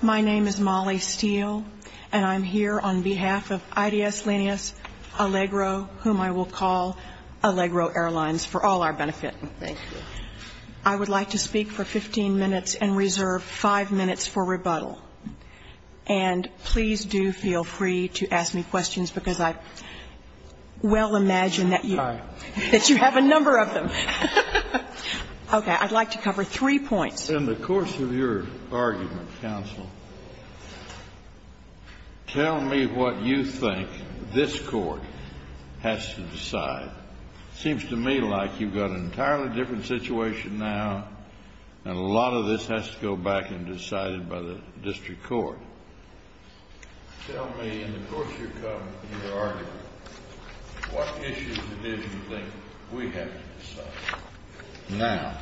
My name is Molly Steele, and I'm here on behalf of IDS Lenius Allegro, whom I will call Allegro Airlines for all our benefit. Thank you. I would like to speak for 15 minutes and reserve 5 minutes for rebuttal. And please do feel free to ask me questions because I well imagine that you have a number of them. Okay, I'd like to cover three points. In the course of your argument, counsel, tell me what you think this court has to decide. It seems to me like you've got an entirely different situation now, and a lot of this has to go back and be decided by the district court. Tell me, in the course of your argument, what issues do you think we have to decide now?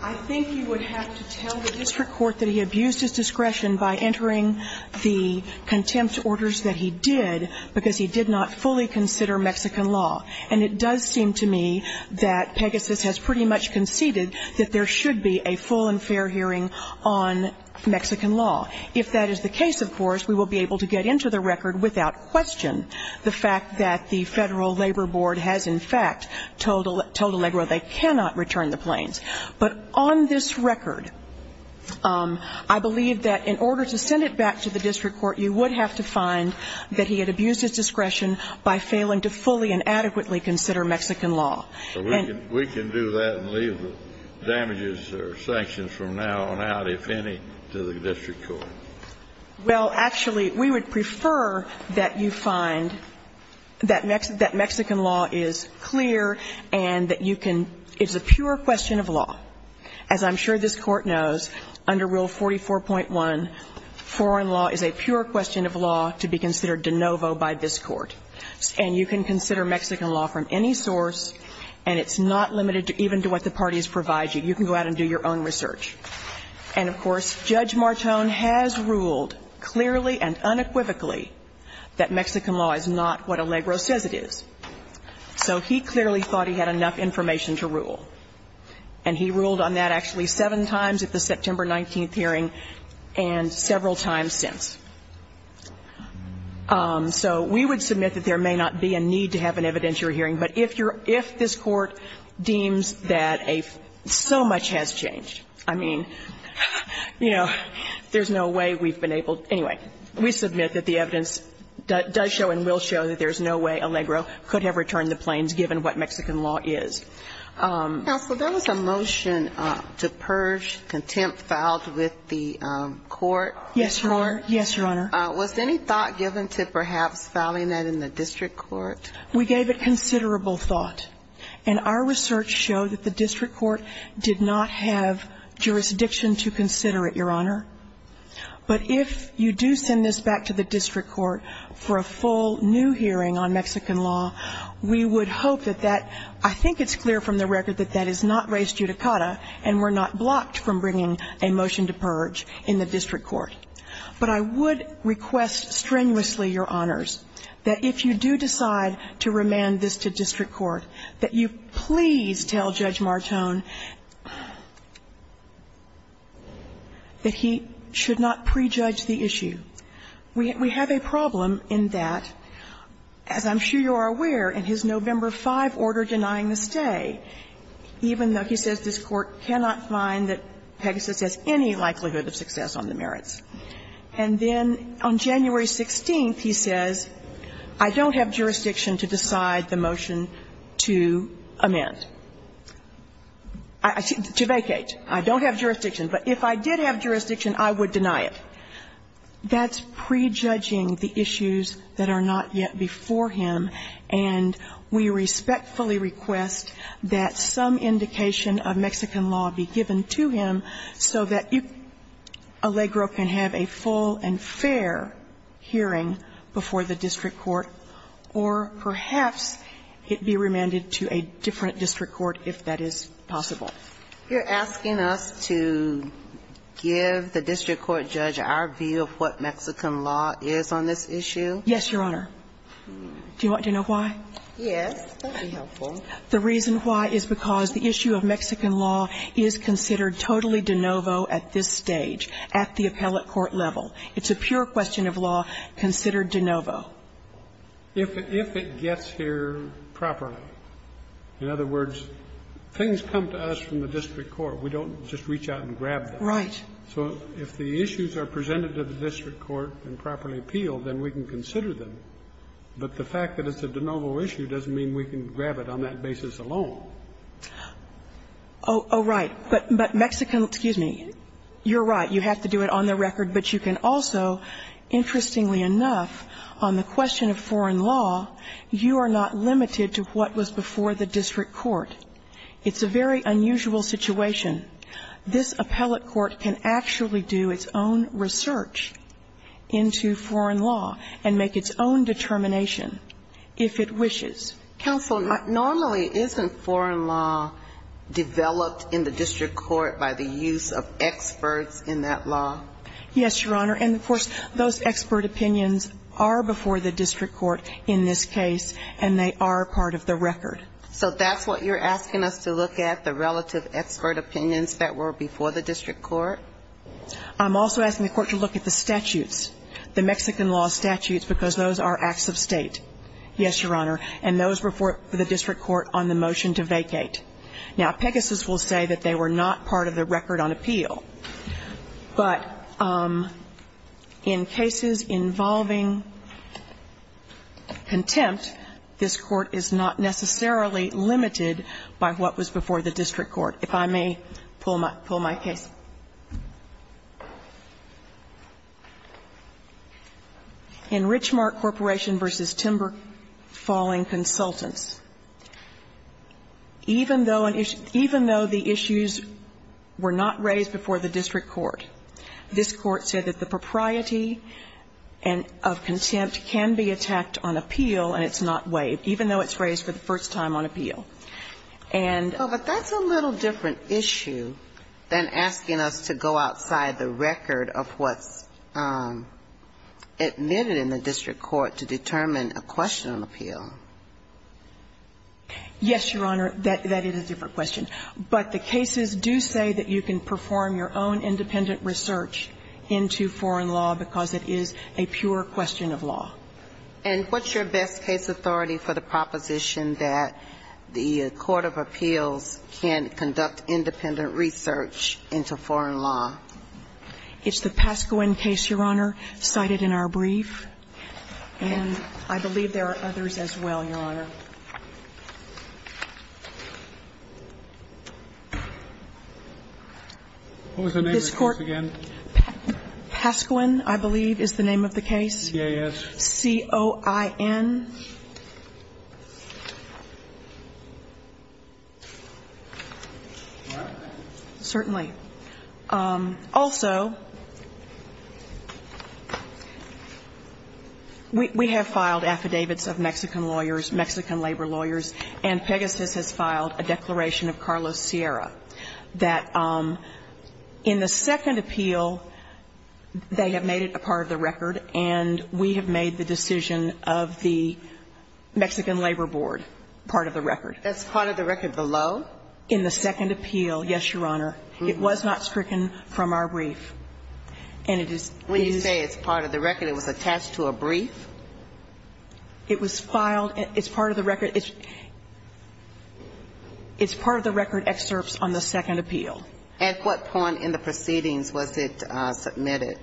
I think you would have to tell the district court that he abused his discretion by entering the contempt orders that he did because he did not fully consider Mexican law. And it does seem to me that Pegasus has pretty much conceded that there should be a full and fair hearing on Mexican law. If that is the case, of course, we will be able to get into the record without question the fact that the Federal Labor Board has, in fact, told Allegro they cannot return the planes. But on this record, I believe that in order to send it back to the district court, you would have to find that he had abused his discretion by failing to fully and adequately consider Mexican law. We can do that and leave the damages or sanctions from now on out, if any, to the district court. Well, actually, we would prefer that you find that Mexican law is clear and that you can – it's a pure question of law. As I'm sure this Court knows, under Rule 44.1, foreign law is a pure question of law to be considered de novo by this Court. And you can consider Mexican law from any source, and it's not limited even to what the parties provide you. You can go out and do your own research. And, of course, Judge Martone has ruled clearly and unequivocally that Mexican law is not what Allegro says it is. So he clearly thought he had enough information to rule, and he ruled on that actually seven times at the September 19th hearing and several times since. So we would submit that there may not be a need to have an evidentiary hearing, but if you're – if this Court deems that a – so much has changed, I mean, you know, there's no way we've been able – anyway, we submit that the evidence does show and will show that there's no way Allegro could have returned the planes given what Mexican law is. Counsel, there was a motion to purge contempt filed with the court. Yes, Your Honor. Yes, Your Honor. Was any thought given to perhaps filing that in the district court? We gave it considerable thought. And our research showed that the district court did not have jurisdiction to consider it, Your Honor. But if you do send this back to the district court for a full new hearing on Mexican law, we would hope that that – I think it's clear from the record that that is not res judicata and we're not blocked from bringing a motion to purge in the district court. But I would request strenuously, Your Honors, that if you do decide to remand this to district court, that you please tell Judge Martone that he should not prejudge the issue. We have a problem in that, as I'm sure you are aware, in his November 5 order denying the stay, even though he says this Court cannot find that Pegasus has any likelihood of success on the merits. And then on January 16th, he says, I don't have jurisdiction to decide the motion to amend. To vacate. I don't have jurisdiction. But if I did have jurisdiction, I would deny it. That's prejudging the issues that are not yet before him, and we respectfully request that some indication of Mexican law be given to him so that Allegro can have a full and fair hearing before the district court, or perhaps it be remanded to a different district court if that is possible. You're asking us to give the district court judge our view of what Mexican law is on this issue? Yes, Your Honor. Do you want to know why? Yes. That would be helpful. The reason why is because the issue of Mexican law is considered totally de novo at this stage, at the appellate court level. It's a pure question of law considered de novo. If it gets here properly. In other words, things come to us from the district court. We don't just reach out and grab them. Right. So if the issues are presented to the district court and properly appealed, then we can consider them. But the fact that it's a de novo issue doesn't mean we can grab it on that basis alone. Oh, right. But Mexican law, excuse me, you're right, you have to do it on the record. But you can also, interestingly enough, on the question of foreign law, you are not limited to what was before the district court. It's a very unusual situation. This appellate court can actually do its own research into foreign law and make its own determination if it wishes. Counsel, normally isn't foreign law developed in the district court by the use of experts in that law? Yes, Your Honor. And of course, those expert opinions are before the district court in this case, and they are part of the record. So that's what you're asking us to look at, the relative expert opinions that were before the district court? I'm also asking the court to look at the statutes, the Mexican law statutes, because those are acts of state. Yes, Your Honor. And those were before the district court on the motion to vacate. Now, Pegasus will say that they were not part of the record on appeal. But in cases involving contempt, this court is not necessarily limited by what was before the district court. If I may pull my case. In Richmark Corporation v. Timber Falling Consultants, even though the issues were not raised before the district court, this court said that the propriety of contempt can be attacked on appeal and it's not waived, even though it's raised for the first time on appeal. Well, but that's a little different issue than asking us to go outside the record of what's admitted in the district court to determine a question on appeal. Yes, Your Honor. That is a different question. But the cases do say that you can perform your own independent research into foreign law because it is a pure question of law. And what's your best case authority for the proposition that the court of appeals can conduct independent research into foreign law? It's the Pasquin case, Your Honor, cited in our brief. And I believe there are others as well, Your Honor. What was the name of the case again? Pasquin, I believe, is the name of the case. C-O-I-N. All right. Certainly. Also, we have filed affidavits of Mexican lawyers, Mexican labor lawyers, and Pegasus has filed a declaration of Carlos Sierra that in the second appeal they have made it a part of the record, and we have made the decision of the Mexican Labor Board part of the record. That's part of the record below? In the second appeal, yes, Your Honor. It was not stricken from our brief. And it is... When you say it's part of the record, it was attached to a brief? It was filed... It's part of the record... It's part of the record excerpts on the second appeal. At what point in the proceedings was it submitted?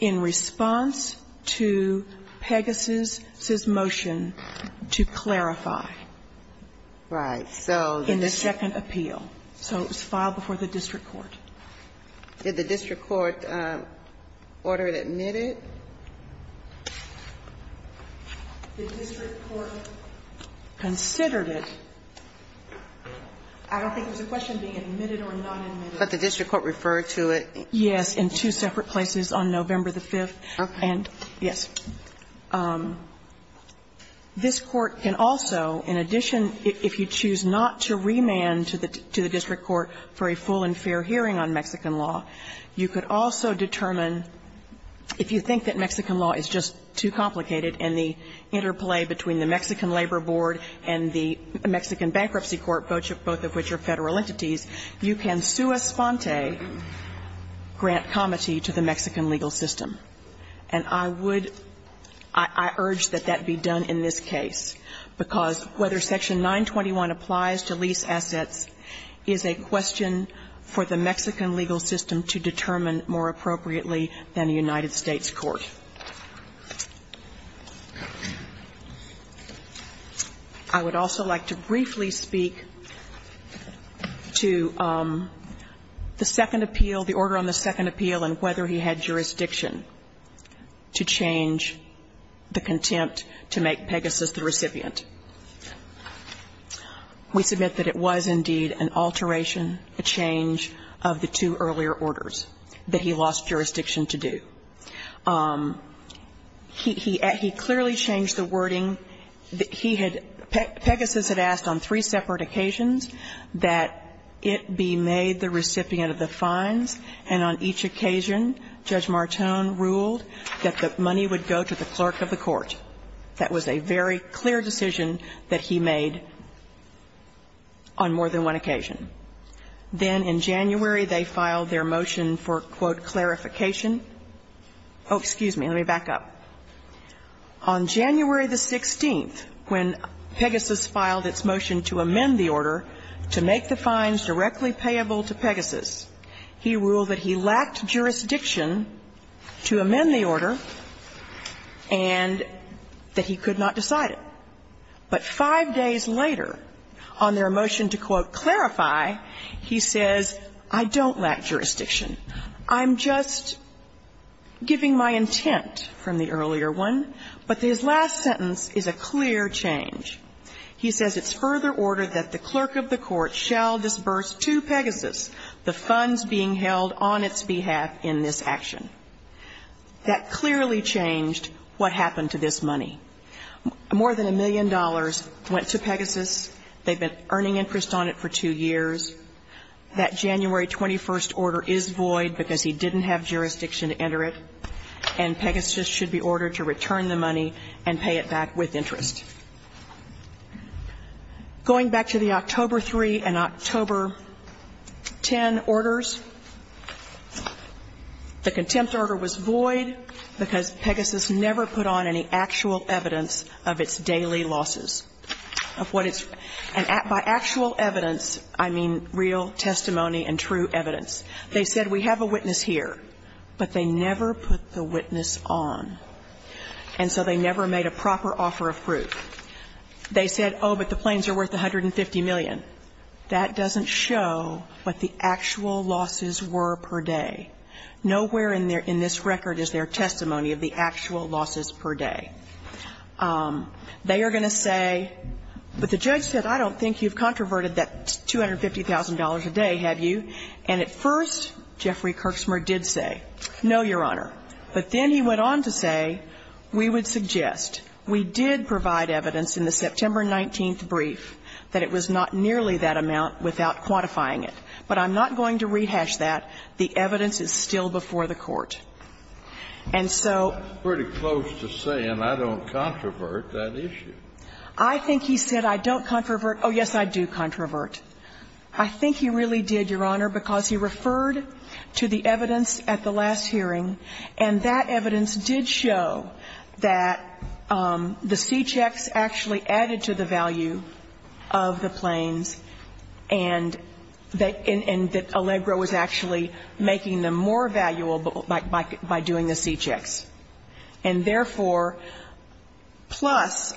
In response to Pegasus' motion to clarify. Right. In the second appeal. So it was filed before the district court. Did the district court order it admitted? The district court considered it. I don't think it was a question of being admitted or not admitted. But the district court referred to it. Yes. In two separate places on November the 5th. Okay. And, yes. This court can also, in addition, if you choose not to remand to the district court for a full and fair hearing on Mexican law, you could also determine if you think that Mexican law is just too complicated and the interplay between the Mexican Labor Board and the Mexican Bankruptcy Court, both of which are federal entities, you can sua sponte grant comity to the Mexican legal system. And I would... I urge that that be done in this case. Because whether Section 921 applies to lease assets is a question for the Mexican legal system to determine more appropriately than a United States court. I would also like to briefly speak to the second appeal, the order on the second appeal and whether he had jurisdiction to change the contempt to make Pegasus the recipient. We submit that it was indeed an alteration, a change of the two earlier orders that he lost jurisdiction to do. He clearly changed the wording. He had... Pegasus had asked on three separate occasions that it be made the recipient of the fines. And on each occasion, Judge Martone ruled that the money would go to the clerk of the court. That was a very clear decision that he made on more than one occasion. Then in January, they filed their motion for, quote, clarification. Oh, excuse me. Let me back up. On January the 16th, when Pegasus filed its motion to amend the order to make the fines directly payable to Pegasus, he ruled that he lacked jurisdiction to amend the order and that he could not decide it. But five days later, on their motion to, quote, clarify, he says, I don't lack jurisdiction. I'm just giving my intent from the earlier one. But his last sentence is a clear change. He says it's further order that the clerk of the court shall disburse to Pegasus the funds being held on its behalf in this action. That clearly changed what happened to this money. More than a million dollars went to Pegasus. They've been earning interest on it for two years. That January 21st order is void because he didn't have jurisdiction to enter it. And Pegasus should be ordered to return the money and pay it back with interest. Going back to the October 3 and October 10 orders, the contempt order was void because Pegasus never put on any actual evidence of its daily losses. And by actual evidence, I mean real testimony and true evidence. They said, we have a witness here. But they never put the witness on. And so they never made a proper offer of proof. They said, oh, but the planes are worth $150 million. That doesn't show what the actual losses were per day. Nowhere in this record is there testimony of the actual losses per day. They are going to say, but the judge said, I don't think you've controverted that $250,000 a day, have you? And at first, Jeffrey Kirksmer did say, no, Your Honor. But then he went on to say, we would suggest. We did provide evidence in the September 19th brief that it was not nearly that amount without quantifying it. But I'm not going to rehash that. The evidence is still before the Court. And so ---- It's pretty close to saying, I don't controvert that issue. I think he said, I don't controvert. Oh, yes, I do controvert. I think he really did, Your Honor, because he referred to the evidence at the last hearing, and that evidence did show that the C-checks actually added to the value of the planes and that Allegro was actually making them more valuable by doing the C-checks. And therefore, plus,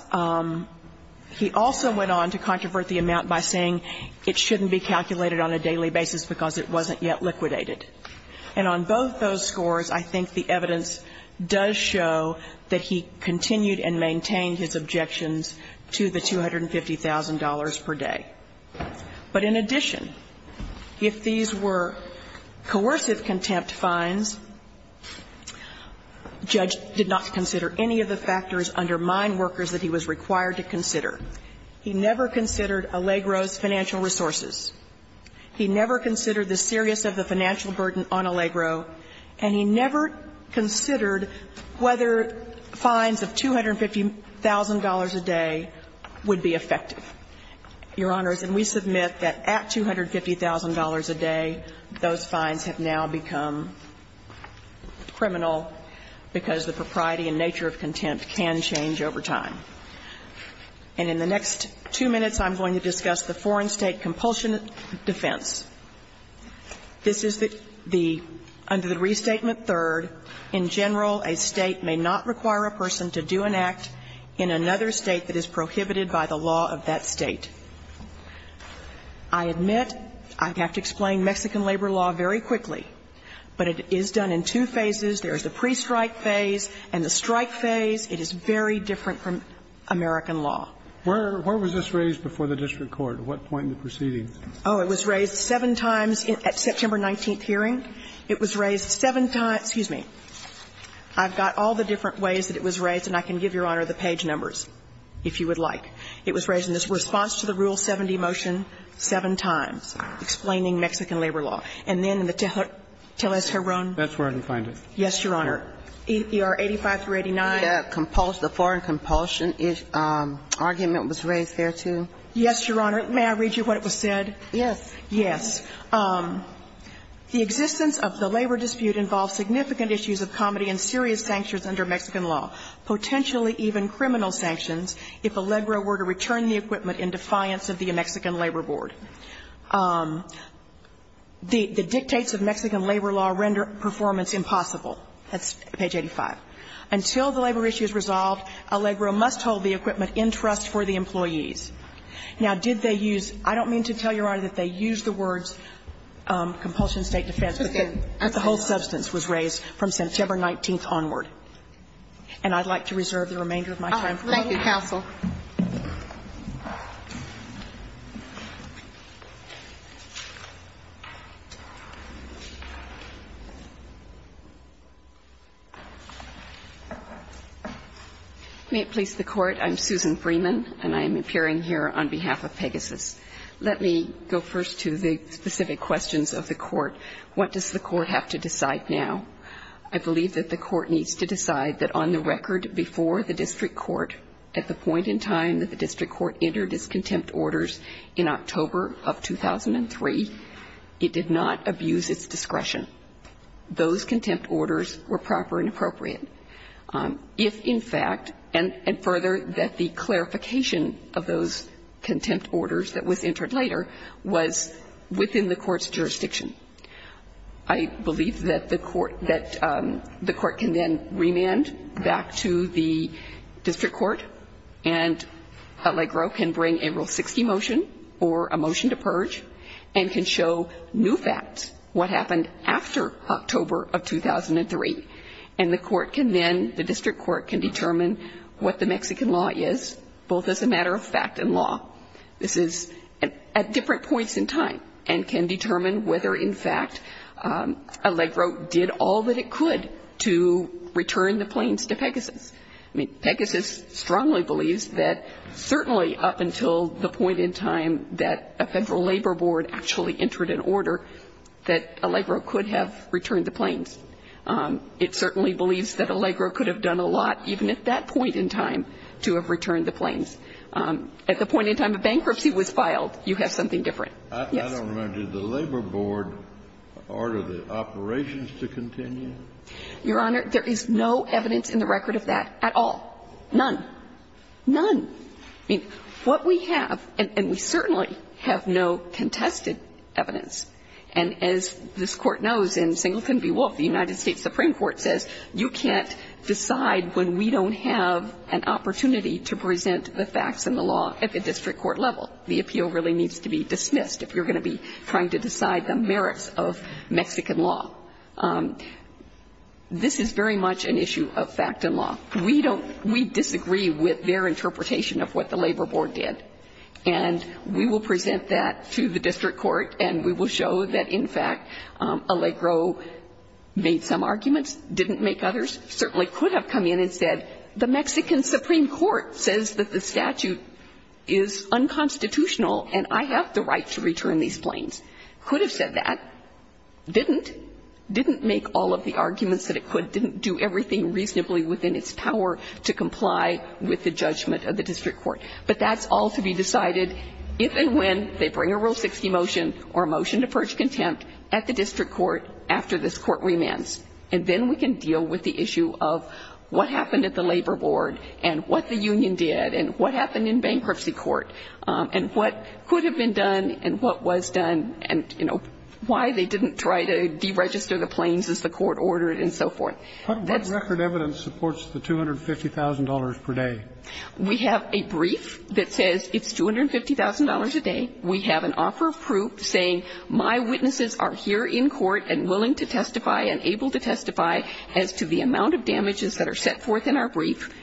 he also went on to controvert the amount by saying it shouldn't be calculated on a daily basis because it wasn't yet liquidated. And on both those scores, I think the evidence does show that he continued and maintained his objections to the $250,000 per day. But in addition, if these were coercive contempt fines, judge did not consider any of the factors under mine workers that he was required to consider. He never considered Allegro's financial resources. He never considered the serious of the financial burden on Allegro. And he never considered whether fines of $250,000 a day would be effective, Your Honors. And we submit that at $250,000 a day, those fines have now become criminal because the propriety and nature of contempt can change over time. And in the next two minutes, I'm going to discuss the foreign state compulsion defense. This is the, under the restatement third, in general, a state may not require a person to do an act in another state that is prohibited by the law of that state. I admit I have to explain Mexican labor law very quickly, but it is done in two phases. There is the pre-strike phase and the strike phase. It is very different from American law. Where was this raised before the district court? At what point in the proceedings? Oh, it was raised seven times at September 19th hearing. It was raised seven times. Excuse me. I've got all the different ways that it was raised, and I can give, Your Honor, the page numbers if you would like. It was raised in response to the Rule 70 motion seven times, explaining Mexican labor law. And then in the Tellez-Heron. That's where I can find it. Yes, Your Honor. ER 85-89. The foreign compulsion argument was raised there, too? Yes, Your Honor. May I read you what was said? Yes. Yes. The existence of the labor dispute involves significant issues of comedy and serious sanctions under Mexican law, potentially even criminal sanctions, if Allegro were to return the equipment in defiance of the Mexican labor board. The dictates of Mexican labor law render performance impossible. That's page 85. Until the labor issue is resolved, Allegro must hold the equipment in trust for the employees. Now, did they use – I don't mean to tell Your Honor that they used the words compulsion, state defense, but the whole substance was raised from September 19th onward. And I'd like to reserve the remainder of my time. Thank you, counsel. May it please the Court. I'm Susan Freeman, and I'm appearing here on behalf of Pegasus. Let me go first to the specific questions of the Court. What does the Court have to decide now? I believe that the Court needs to decide that on the record before the district court, at the point in time that the district court entered its contempt orders in October of 2003, it did not abuse its discretion. Those contempt orders were proper and appropriate. If, in fact – and further, that the clarification of those contempt orders that was entered later was within the Court's jurisdiction. I believe that the Court – that the Court can then remand back to the district court, and Allegro can bring a Rule 60 motion or a motion to purge, and can show new facts, what happened after October of 2003. And the Court can then – the district court can determine what the Mexican law is, both as a matter of fact and law. This is at different points in time and can determine whether, in fact, Allegro did all that it could to return the planes to Pegasus. I mean, Pegasus strongly believes that certainly up until the point in time that a federal labor board actually entered an order, that Allegro could have returned the planes. It certainly believes that Allegro could have done a lot, even at that point in time, to have returned the planes. At the point in time a bankruptcy was filed, you have something different. Yes. I don't remember. Did the labor board order the operations to continue? Your Honor, there is no evidence in the record of that at all. None. None. I mean, what we have – and we certainly have no contested evidence. And as this Court knows, in Singleton v. Wolf, the United States Supreme Court says you can't decide when we don't have an opportunity to present the facts and the law at the district court level. The appeal really needs to be dismissed if you're going to be trying to decide the merits of Mexican law. This is very much an issue of fact and law. We don't – we disagree with their interpretation of what the labor board did. And we will present that to the district court and we will show that, in fact, Allegro made some arguments, didn't make others, certainly could have come in and said, the Mexican Supreme Court says that the statute is unconstitutional and I have the right to return these planes. Could have said that. Didn't. Didn't make all of the arguments that it could. Didn't do everything reasonably within its power to comply with the judgment of the district court. But that's all to be decided if and when they bring a Rule 60 motion or a motion to purge contempt at the district court after this Court remands. And then we can deal with the issue of what happened at the labor board and what the union did and what happened in bankruptcy court and what could have been done and what was done and, you know, why they didn't try to deregister the planes as the court ordered and so forth. What record evidence supports the $250,000 per day? We have a brief that says it's $250,000 a day. We have an offer of proof saying my witnesses are here in court and willing to testify and able to testify as to the amount of damages that are set forth in our brief.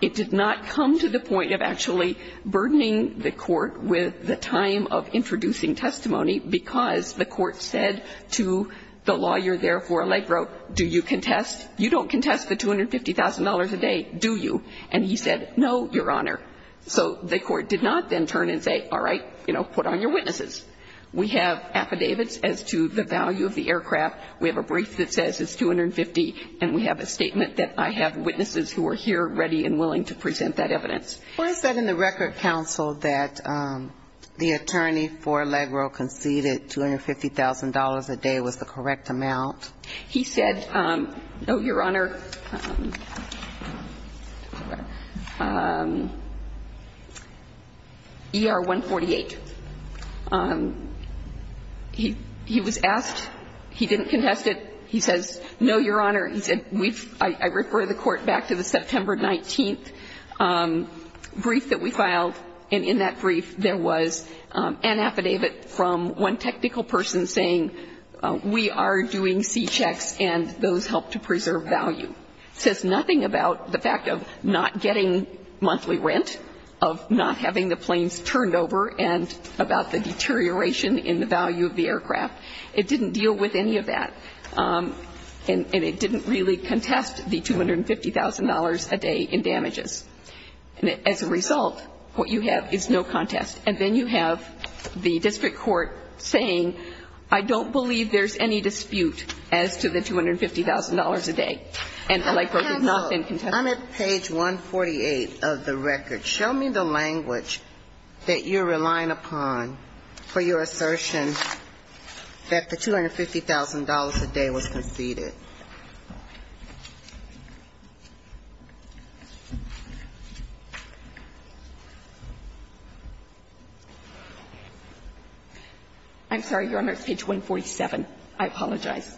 It did not come to the point of actually burdening the court with the time of introducing testimony because the court said to the lawyer there for Allegro, do you contest? You don't contest the $250,000 a day, do you? And he said, no, Your Honor. So the court did not then turn and say, all right, you know, put on your witnesses. We have affidavits as to the value of the aircraft. We have a brief that says it's $250,000 and we have a statement that I have witnesses who are here ready and willing to present that evidence. Why is that in the record counsel that the attorney for Allegro conceded $250,000 a day was the correct amount? He said, no, Your Honor. ER-148. He was asked. He didn't contest it. He says, no, Your Honor. He said, I refer the court back to the September 19th brief that we filed. And in that brief there was an affidavit from one technical person saying we are doing C-checks and those help to preserve value. It says nothing about the fact of not getting monthly rent, of not having the planes turned over and about the deterioration in the value of the aircraft. It didn't deal with any of that. And it didn't really contest the $250,000 a day in damages. And as a result, what you have is no contest. And then you have the district court saying, I don't believe there's any dispute as to the $250,000 a day. And Allegro has not been contested. I'm at page 148 of the record. Show me the language that you're relying upon for your assertion that the $250,000 a day was conceded. I'm sorry, Your Honor, it's page 147. I apologize.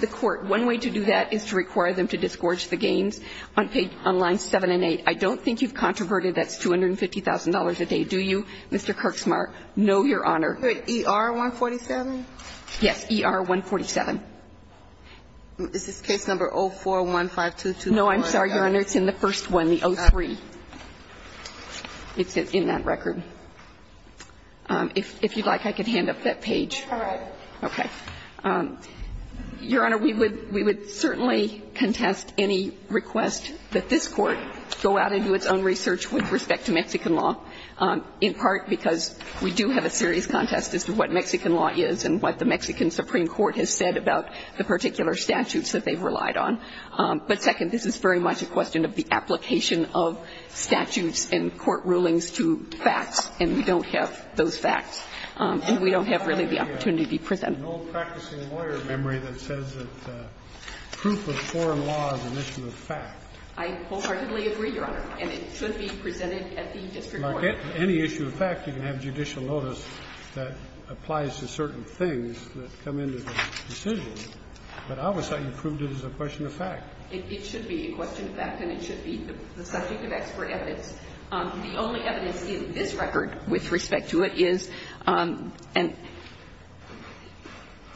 The court, one way to do that is to require them to disgorge the gains on lines 7 and 8. I don't think you've controverted that $250,000 a day, do you, Mr. Kirksmar? No, Your Honor. ER 147? Yes, ER 147. Is this case number 041522? No, I'm sorry, Your Honor, it's in the first one, the 03. It's in that record. If you'd like, I could hand up that page. All right. Okay. Your Honor, we would certainly contest any request that this Court go out and do its own research with respect to Mexican law, in part because we do have a serious contest as to what Mexican law is and what the Mexican Supreme Court has said about the particular statutes that they've relied on. But second, this is very much a question of the application of statutes and court rulings to facts, and we don't have those facts. And we don't have really the opportunity to present them. I have no practicing lawyer memory that says that proof of foreign law is an issue of fact. I wholeheartedly agree, Your Honor, and it should be presented at the district court. Any issue of fact, you can have judicial notice that applies to certain things that come into the decision, but I always thought you proved it as a question of fact. It should be a question of fact and it should be the subject of expert evidence. The only evidence in this record with respect to it is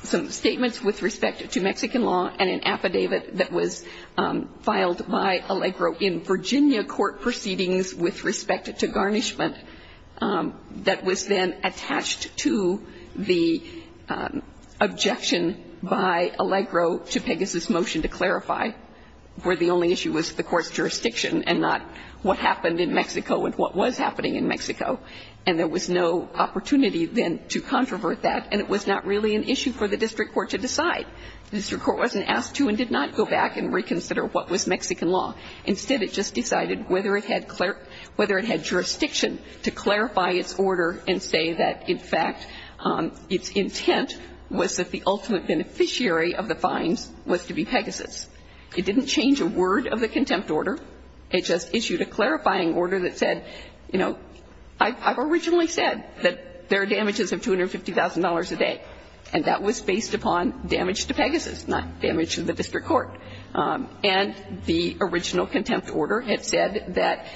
some statements with respect to Mexican law and an affidavit that was filed by Allegro in Virginia court proceedings with respect to garnishment that was then attached to the objection by Allegro to Pegasus' motion to clarify, where the only issue was the court's jurisdiction and not what happened in Mexico and what was happening in Mexico. And there was no opportunity then to controvert that, and it was not really an issue for the district court to decide. The district court wasn't asked to and did not go back and reconsider what was Mexican law. Instead, it just decided whether it had jurisdiction to clarify its order and say that, in fact, its intent was that the ultimate beneficiary of the fines was to be Pegasus. It didn't change a word of the contempt order. It just issued a clarifying order that said, you know, I've originally said that there are damages of $250,000 a day, and that was based upon damage to Pegasus, not damage to the district court. And the original contempt order had said that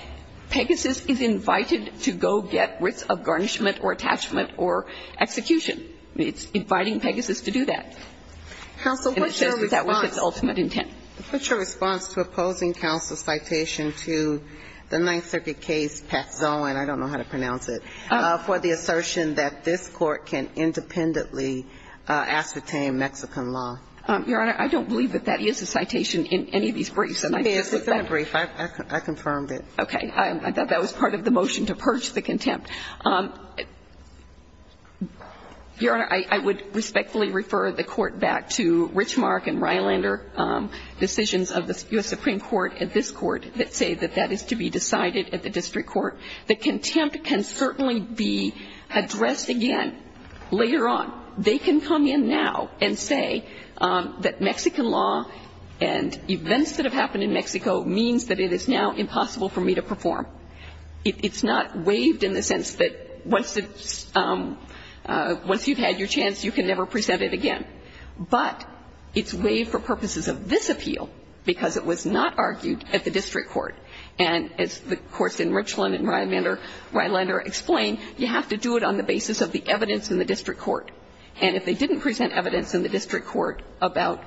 Pegasus is invited to go get writs of garnishment or attachment or execution. It's inviting Pegasus to do that. Counsel, what's your response? And it says that that was its ultimate intent. What's your response to opposing counsel's citation to the Ninth Circuit case, Pat Zohan, I don't know how to pronounce it, for the assertion that this court can independently ascertain Mexican law? Your Honor, I don't believe that that is a citation in any of these briefs. Maybe it is. It's not a brief. I confirmed it. Okay. I thought that was part of the motion to purge the contempt. Your Honor, I would respectfully refer the court back to Richmark and Rylander decisions of the U.S. Supreme Court at this court that say that that is to be decided at the district court. The contempt can certainly be addressed again later on. They can come in now and say that Mexican law and events that have happened in Mexico means that it is now impossible for me to perform. It's not waived in the sense that once you've had your chance, you can never present it again. But it's waived for purposes of this appeal because it was not argued at the district court. And as the courts in Richland and Rylander explain, you have to do it on the basis of the evidence in the district court. And if they didn't present evidence in the district court about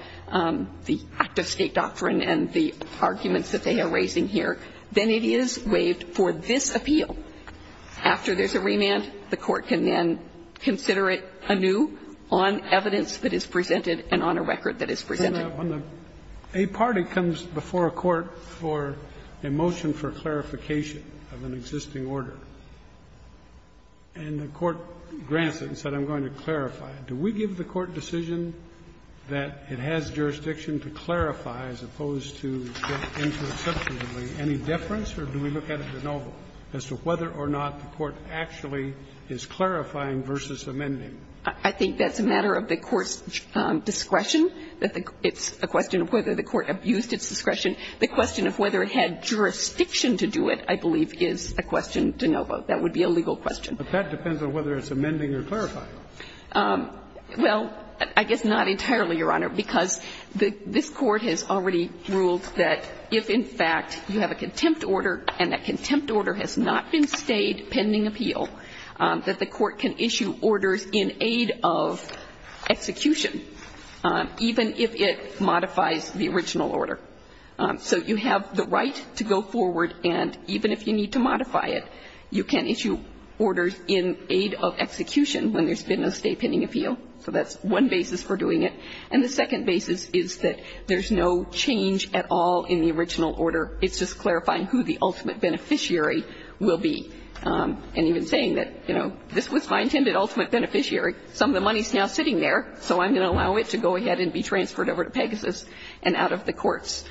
the act of state doctrine and the arguments that they are raising here, then it is waived for this appeal. After there's a remand, the court can then consider it anew on evidence that is presented and on a record that is presented. A party comes before a court for a motion for clarification of an existing order, and the court grants it and said, I'm going to clarify it. Do we give the court decision that it has jurisdiction to clarify as opposed to get into a substantively any deference, or do we look at it de novo as to whether or not the court actually is clarifying versus amending? I think that's a matter of the court's discretion. It's a question of whether the court abused its discretion. The question of whether it had jurisdiction to do it, I believe, is a question de novo. That would be a legal question. But that depends on whether it's amending or clarifying. Well, I guess not entirely, Your Honor, because this Court has already ruled that if, in fact, you have a contempt order and that contempt order has not been stayed pending appeal, that the court can issue orders in aid of execution, even if it modifies the original order. So you have the right to go forward, and even if you need to modify it, you can issue orders in aid of execution when there's been a stay pending appeal. So that's one basis for doing it. And the second basis is that there's no change at all in the original order. It's just clarifying who the ultimate beneficiary will be. And even saying that, you know, this was my intended ultimate beneficiary. Some of the money is now sitting there, so I'm going to allow it to go ahead and be transferred over to Pegasus and out of the court's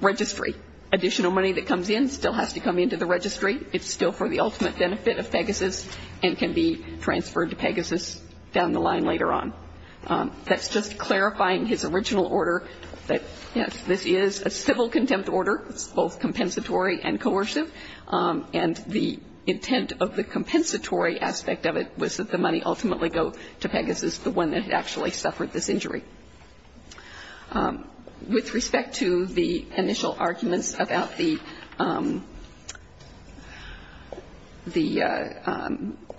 registry. Additional money that comes in still has to come into the registry. It's still for the ultimate benefit of Pegasus and can be transferred to Pegasus down the line later on. That's just clarifying his original order that, yes, this is a civil contempt order. It's both compensatory and coercive. And the intent of the compensatory aspect of it was that the money ultimately go to Pegasus, the one that had actually suffered this injury. With respect to the initial arguments about the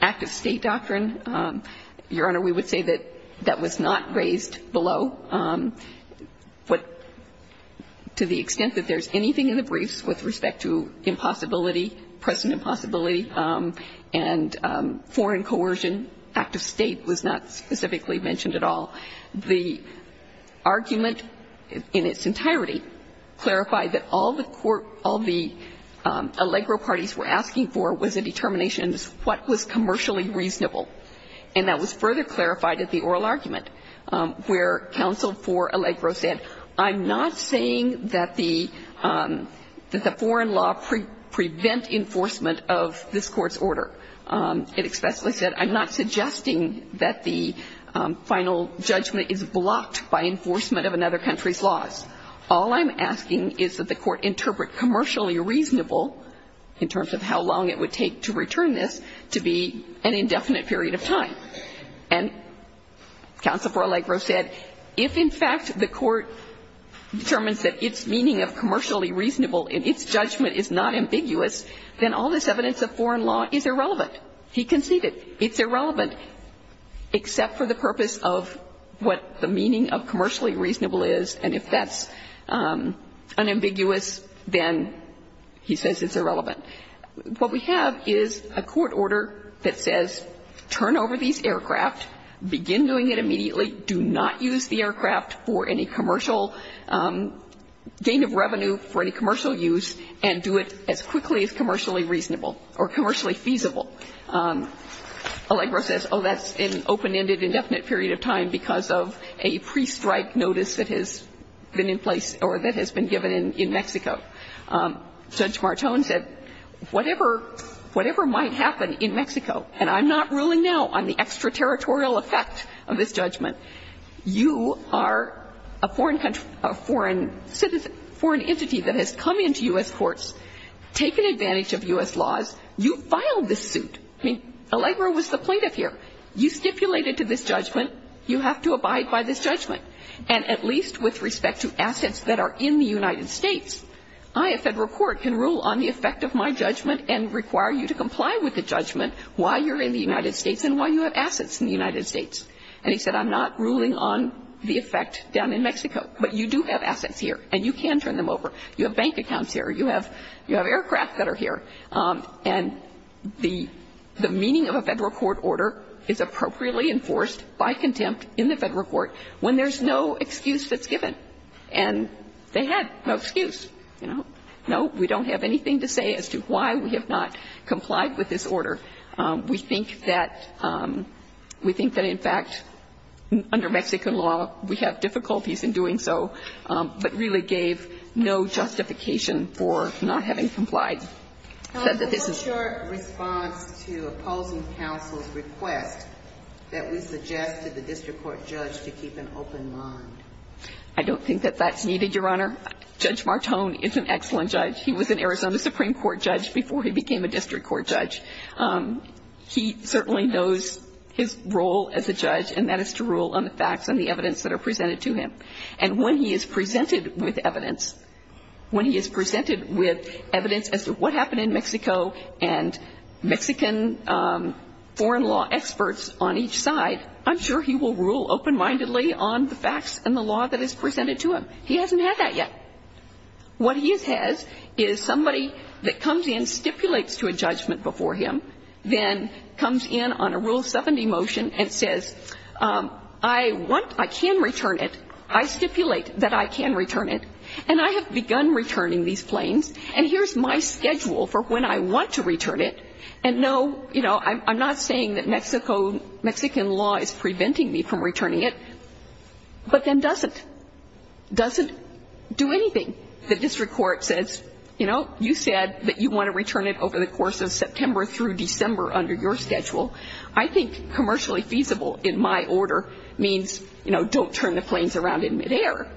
Act of State doctrine, Your Honor, we would say that that was not raised below. To the extent that there's anything in the briefs with respect to impossibility, present impossibility, and foreign coercion, Act of State was not specifically mentioned at all. The argument in its entirety clarified that all the Allegro parties were asking for was a determination of what was commercially reasonable. And that was further clarified at the oral argument, where counsel for Allegro said, I'm not saying that the foreign law prevent enforcement of this court's order. It expressly said, I'm not suggesting that the final judgment is blocked by enforcement of another country's laws. All I'm asking is that the court interpret commercially reasonable, in terms of how long it would take to return this, to be an indefinite period of time. And counsel for Allegro said, if, in fact, the court determines that its meaning of commercially reasonable and its judgment is not ambiguous, then all this evidence of foreign law is irrelevant. He conceded it's irrelevant, except for the purpose of what the meaning of commercially reasonable is. And if that's unambiguous, then he says it's irrelevant. What we have is a court order that says, turn over these aircraft, begin doing it immediately, do not use the aircraft for any commercial gain of revenue for any commercial gain of revenue, or commercially feasible. Allegro says, oh, that's an open-ended, indefinite period of time because of a pre-strike notice that has been in place, or that has been given in Mexico. Judge Martone said, whatever might happen in Mexico, and I'm not ruling now on the extraterritorial effect of this judgment, you are a foreign entity that has come into U.S. courts, taken advantage of U.S. laws, you filed this suit. I mean, Allegro was the plaintiff here. You stipulated to this judgment. You have to abide by this judgment. And at least with respect to assets that are in the United States, I, a federal court, can rule on the effect of my judgment and require you to comply with the judgment while you're in the United States and while you have assets in the United States. And he said, I'm not ruling on the effect down in Mexico, but you do have assets here, and you can turn them over. You have bank accounts here. You have aircraft that are here. And the meaning of a federal court order is appropriately enforced by contempt in the federal court when there's no excuse that's given. And they had no excuse. You know? No, we don't have anything to say as to why we have not complied with this order. We think that in fact, under Mexican law, we have difficulties in doing so, but he really gave no justification for not having complied. He said that this is... What's your response to opposing counsel's request that we suggest to the district court judge to keep an open mind? I don't think that that's needed, Your Honor. Judge Martone is an excellent judge. He was an Arizona Supreme Court judge before he became a district court judge. He certainly knows his role as a judge, and that is to rule on the facts and the evidence that are presented to him. And when he is presented with evidence, when he is presented with evidence as to what happened in Mexico and Mexican foreign law experts on each side, I'm sure he will rule open-mindedly on the facts and the law that is presented to him. He hasn't had that yet. What he has is somebody that comes in, stipulates to a judgment before him, then comes in on a Rule 70 motion and says, I want... I can return it. I stipulate that I can return it, and I have begun returning these planes, and here's my schedule for when I want to return it. And no, you know, I'm not saying that Mexico... Mexican law is preventing me from returning it, but then doesn't. Doesn't do anything. The district court says, you know, you said that you want to return it over the December under your schedule. I think commercially feasible in my order means, you know, don't turn the planes around in midair,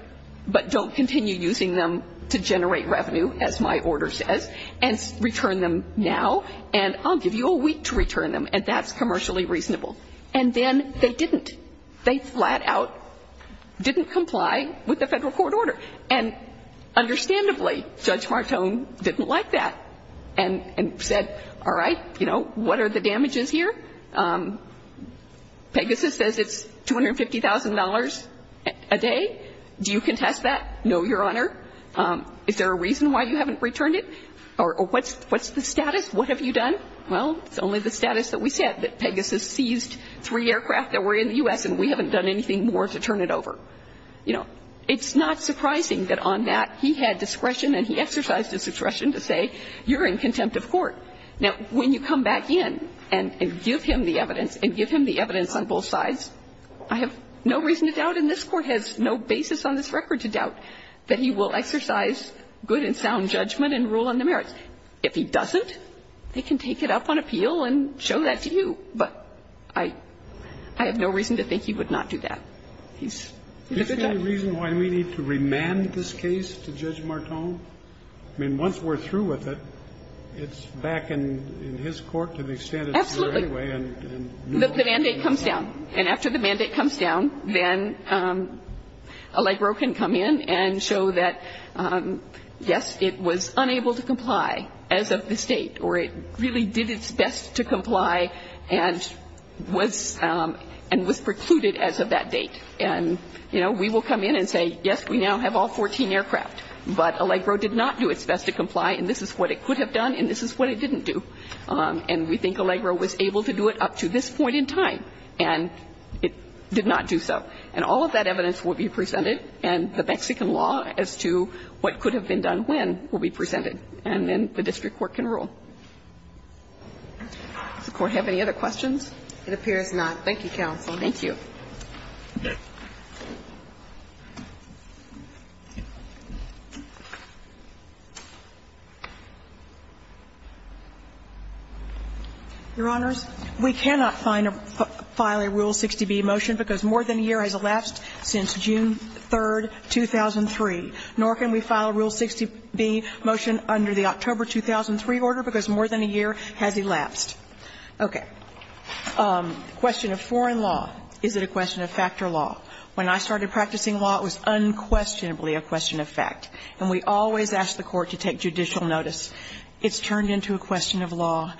but don't continue using them to generate revenue, as my order says, and return them now, and I'll give you a week to return them, and that's commercially reasonable. And then they didn't. They flat out didn't comply with the federal court order. And understandably, Judge Martone didn't like that and said, all right, you know, what are the damages here? Pegasus says it's $250,000 a day. Do you contest that? No, Your Honor. Is there a reason why you haven't returned it? Or what's the status? What have you done? Well, it's only the status that we said, that Pegasus seized three aircraft that were in the U.S., and we haven't done anything more to turn it over. You know, it's not surprising that on that, he had discretion, and he exercised his discretion to say, you're in contempt of court. Now, when you come back in and give him the evidence, and give him the evidence on both sides, I have no reason to doubt, and this Court has no basis on this record to doubt, that he will exercise good and sound judgment and rule on the merits. If he doesn't, they can take it up on appeal and show that to you. But I have no reason to think he would not do that. Is there any reason why we need to remand this case to Judge Martone? I mean, once we're through with it, it's back in his court to the extent it's here anyway. Absolutely. The mandate comes down. And after the mandate comes down, then Allegro can come in and show that, yes, it was unable to comply as of this date, or it really did its best to comply and was precluded as of that date. And, you know, we will come in and say, yes, we now have all 14 aircraft, but Allegro did not do its best to comply, and this is what it could have done, and this is what it didn't do. And we think Allegro was able to do it up to this point in time, and it did not do so. And all of that evidence will be presented, and the Mexican law as to what could have been done when will be presented. And then the district court can rule. Does the Court have any other questions? It appears not. Thank you, counsel. Thank you. Your Honors, we cannot file a Rule 60b motion because more than a year has elapsed since June 3, 2003, nor can we file a Rule 60b motion under the October 2003 order because more than a year has elapsed. Okay. It's either a question of fact or law. When I started practicing law, it was unquestionably a question of fact. And we always ask the Court to take judicial notice. It's turned into a question of law.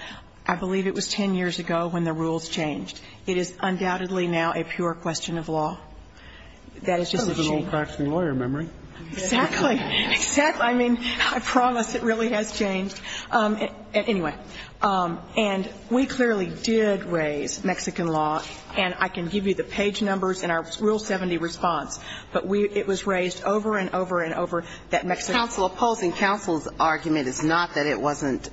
I believe it was 10 years ago when the rules changed. It is undoubtedly now a pure question of law. That is just a change. That was an old practicing lawyer memory. Exactly. Exactly. I mean, I promise it really has changed. Anyway. And we clearly did raise Mexican law. And I can give you the page numbers in our Rule 70 response. But it was raised over and over and over that Mexican law. Counsel, opposing counsel's argument is not that it wasn't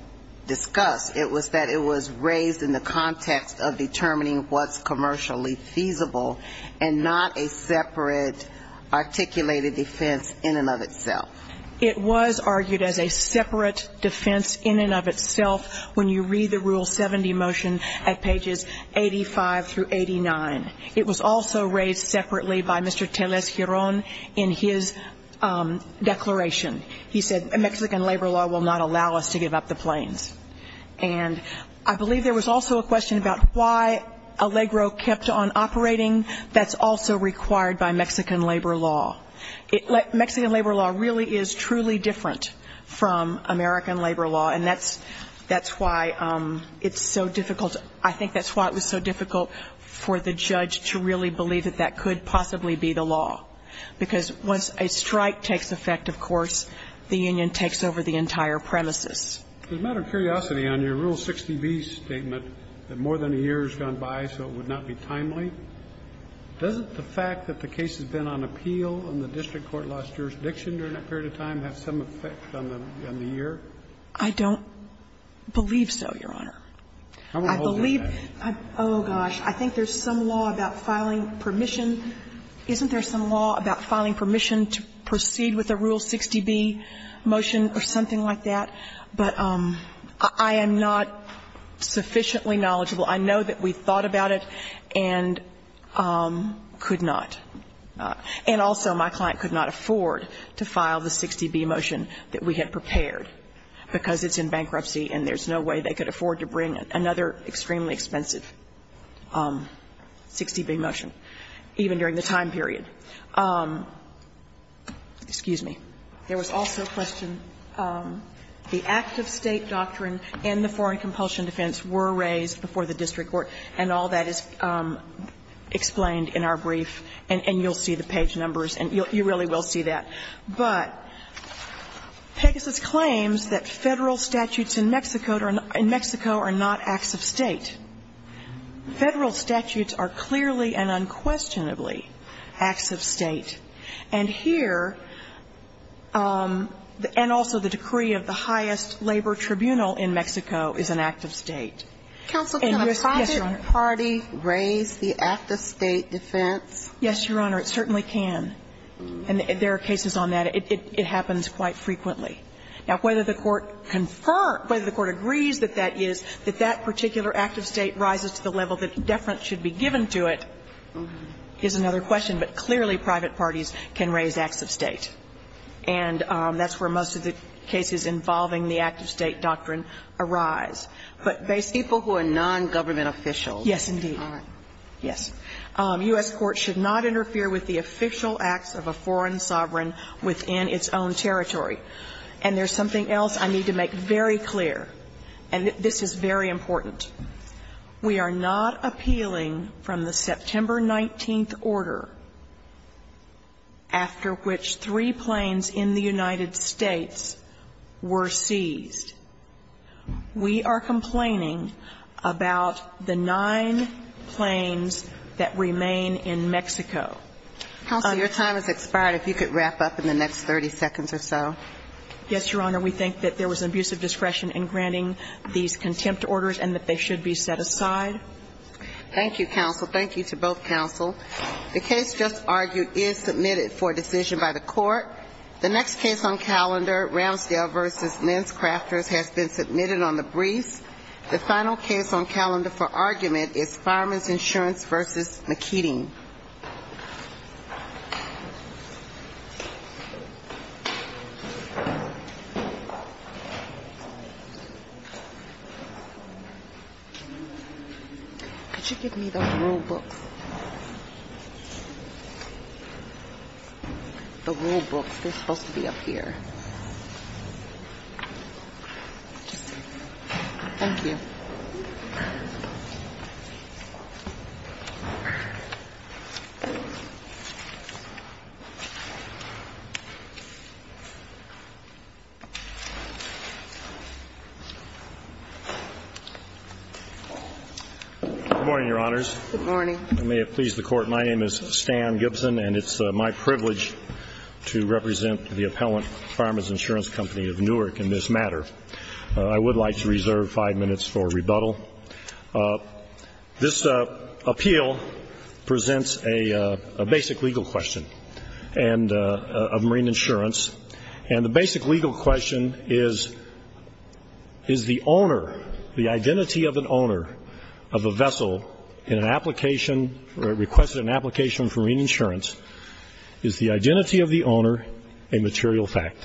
discussed. It was that it was raised in the context of determining what's commercially feasible and not a separate articulated defense in and of itself. It was argued as a separate defense in and of itself when you read the Rule 70 motion at pages 85 through 89. It was also raised separately by Mr. Telez-Giron in his declaration. He said, Mexican labor law will not allow us to give up the planes. And I believe there was also a question about why ALEGRO kept on operating. That's also required by Mexican labor law. Mexican labor law really is truly different from American labor law. And that's why it's so difficult. I think that's why it was so difficult for the judge to really believe that that could possibly be the law. Because once a strike takes effect, of course, the union takes over the entire premises. As a matter of curiosity, on your Rule 60B statement that more than a year has gone by, so it would not be timely, doesn't the fact that the case has been on appeal and the district court lost jurisdiction during that period of time have some effect on the year? I don't believe so, Your Honor. I believe that. Oh, gosh. I think there's some law about filing permission. Isn't there some law about filing permission to proceed with a Rule 60B motion or something like that? But I am not sufficiently knowledgeable. I know that we thought about it and could not. And also, my client could not afford to file the 60B motion that we had prepared, because it's in bankruptcy and there's no way they could afford to bring another extremely expensive 60B motion, even during the time period. Excuse me. There was also a question. The active State doctrine and the foreign compulsion defense were raised before the district court and all that is explained in our brief and you'll see the page numbers and you really will see that. But Pegasus claims that federal statutes in Mexico are not acts of State. Federal statutes are clearly and unquestionably acts of State. And here, and also the decree of the highest labor tribunal in Mexico is an act of State. Counsel, can a private party raise the act of State defense? Yes, Your Honor, it certainly can. And there are cases on that. It happens quite frequently. Now, whether the court agrees that that is, that that particular act of State rises to the level that deference should be given to it is another question. But clearly, private parties can raise acts of State. And that's where most of the cases involving the act of State doctrine arise. But basically... People who are non-government officials. Yes, indeed. Yes. U.S. courts should not interfere with the official acts of a foreign sovereign within its own territory. And there's something else I need to make very clear and this is very important. We are not appealing from the September 19th order after which three planes in the United States were seized. We are complaining about the nine planes that remain in Mexico. Counsel, your time has expired. If you could wrap up in the next 30 seconds or so. Yes, Your Honor. We think that there was an abuse of discretion in granting these contempt orders and that they should be set aside. Thank you, counsel. Thank you to both counsel. The case just argued is submitted for decision by the court. The next case on calendar, Ramsdale v. Lenscrafters, has been submitted on the briefs. The final case on calendar for argument is Fireman's Insurance v. McKeeding. Could you give me those rule books? The rule books, they're supposed to be up here. Just a second. Thank you. Good morning, Your Honors. Good morning. May it please the court, my name is Stan Gibson and it's my privilege to represent the appellant Fireman's Insurance Company of Newark in this matter. I would like to reserve five minutes for rebuttal. This appeal presents a basic legal question And the basic legal question is is the owner, the identity of an owner of a vessel in an application requested an application for reinsurance is the identity of the owner a material fact?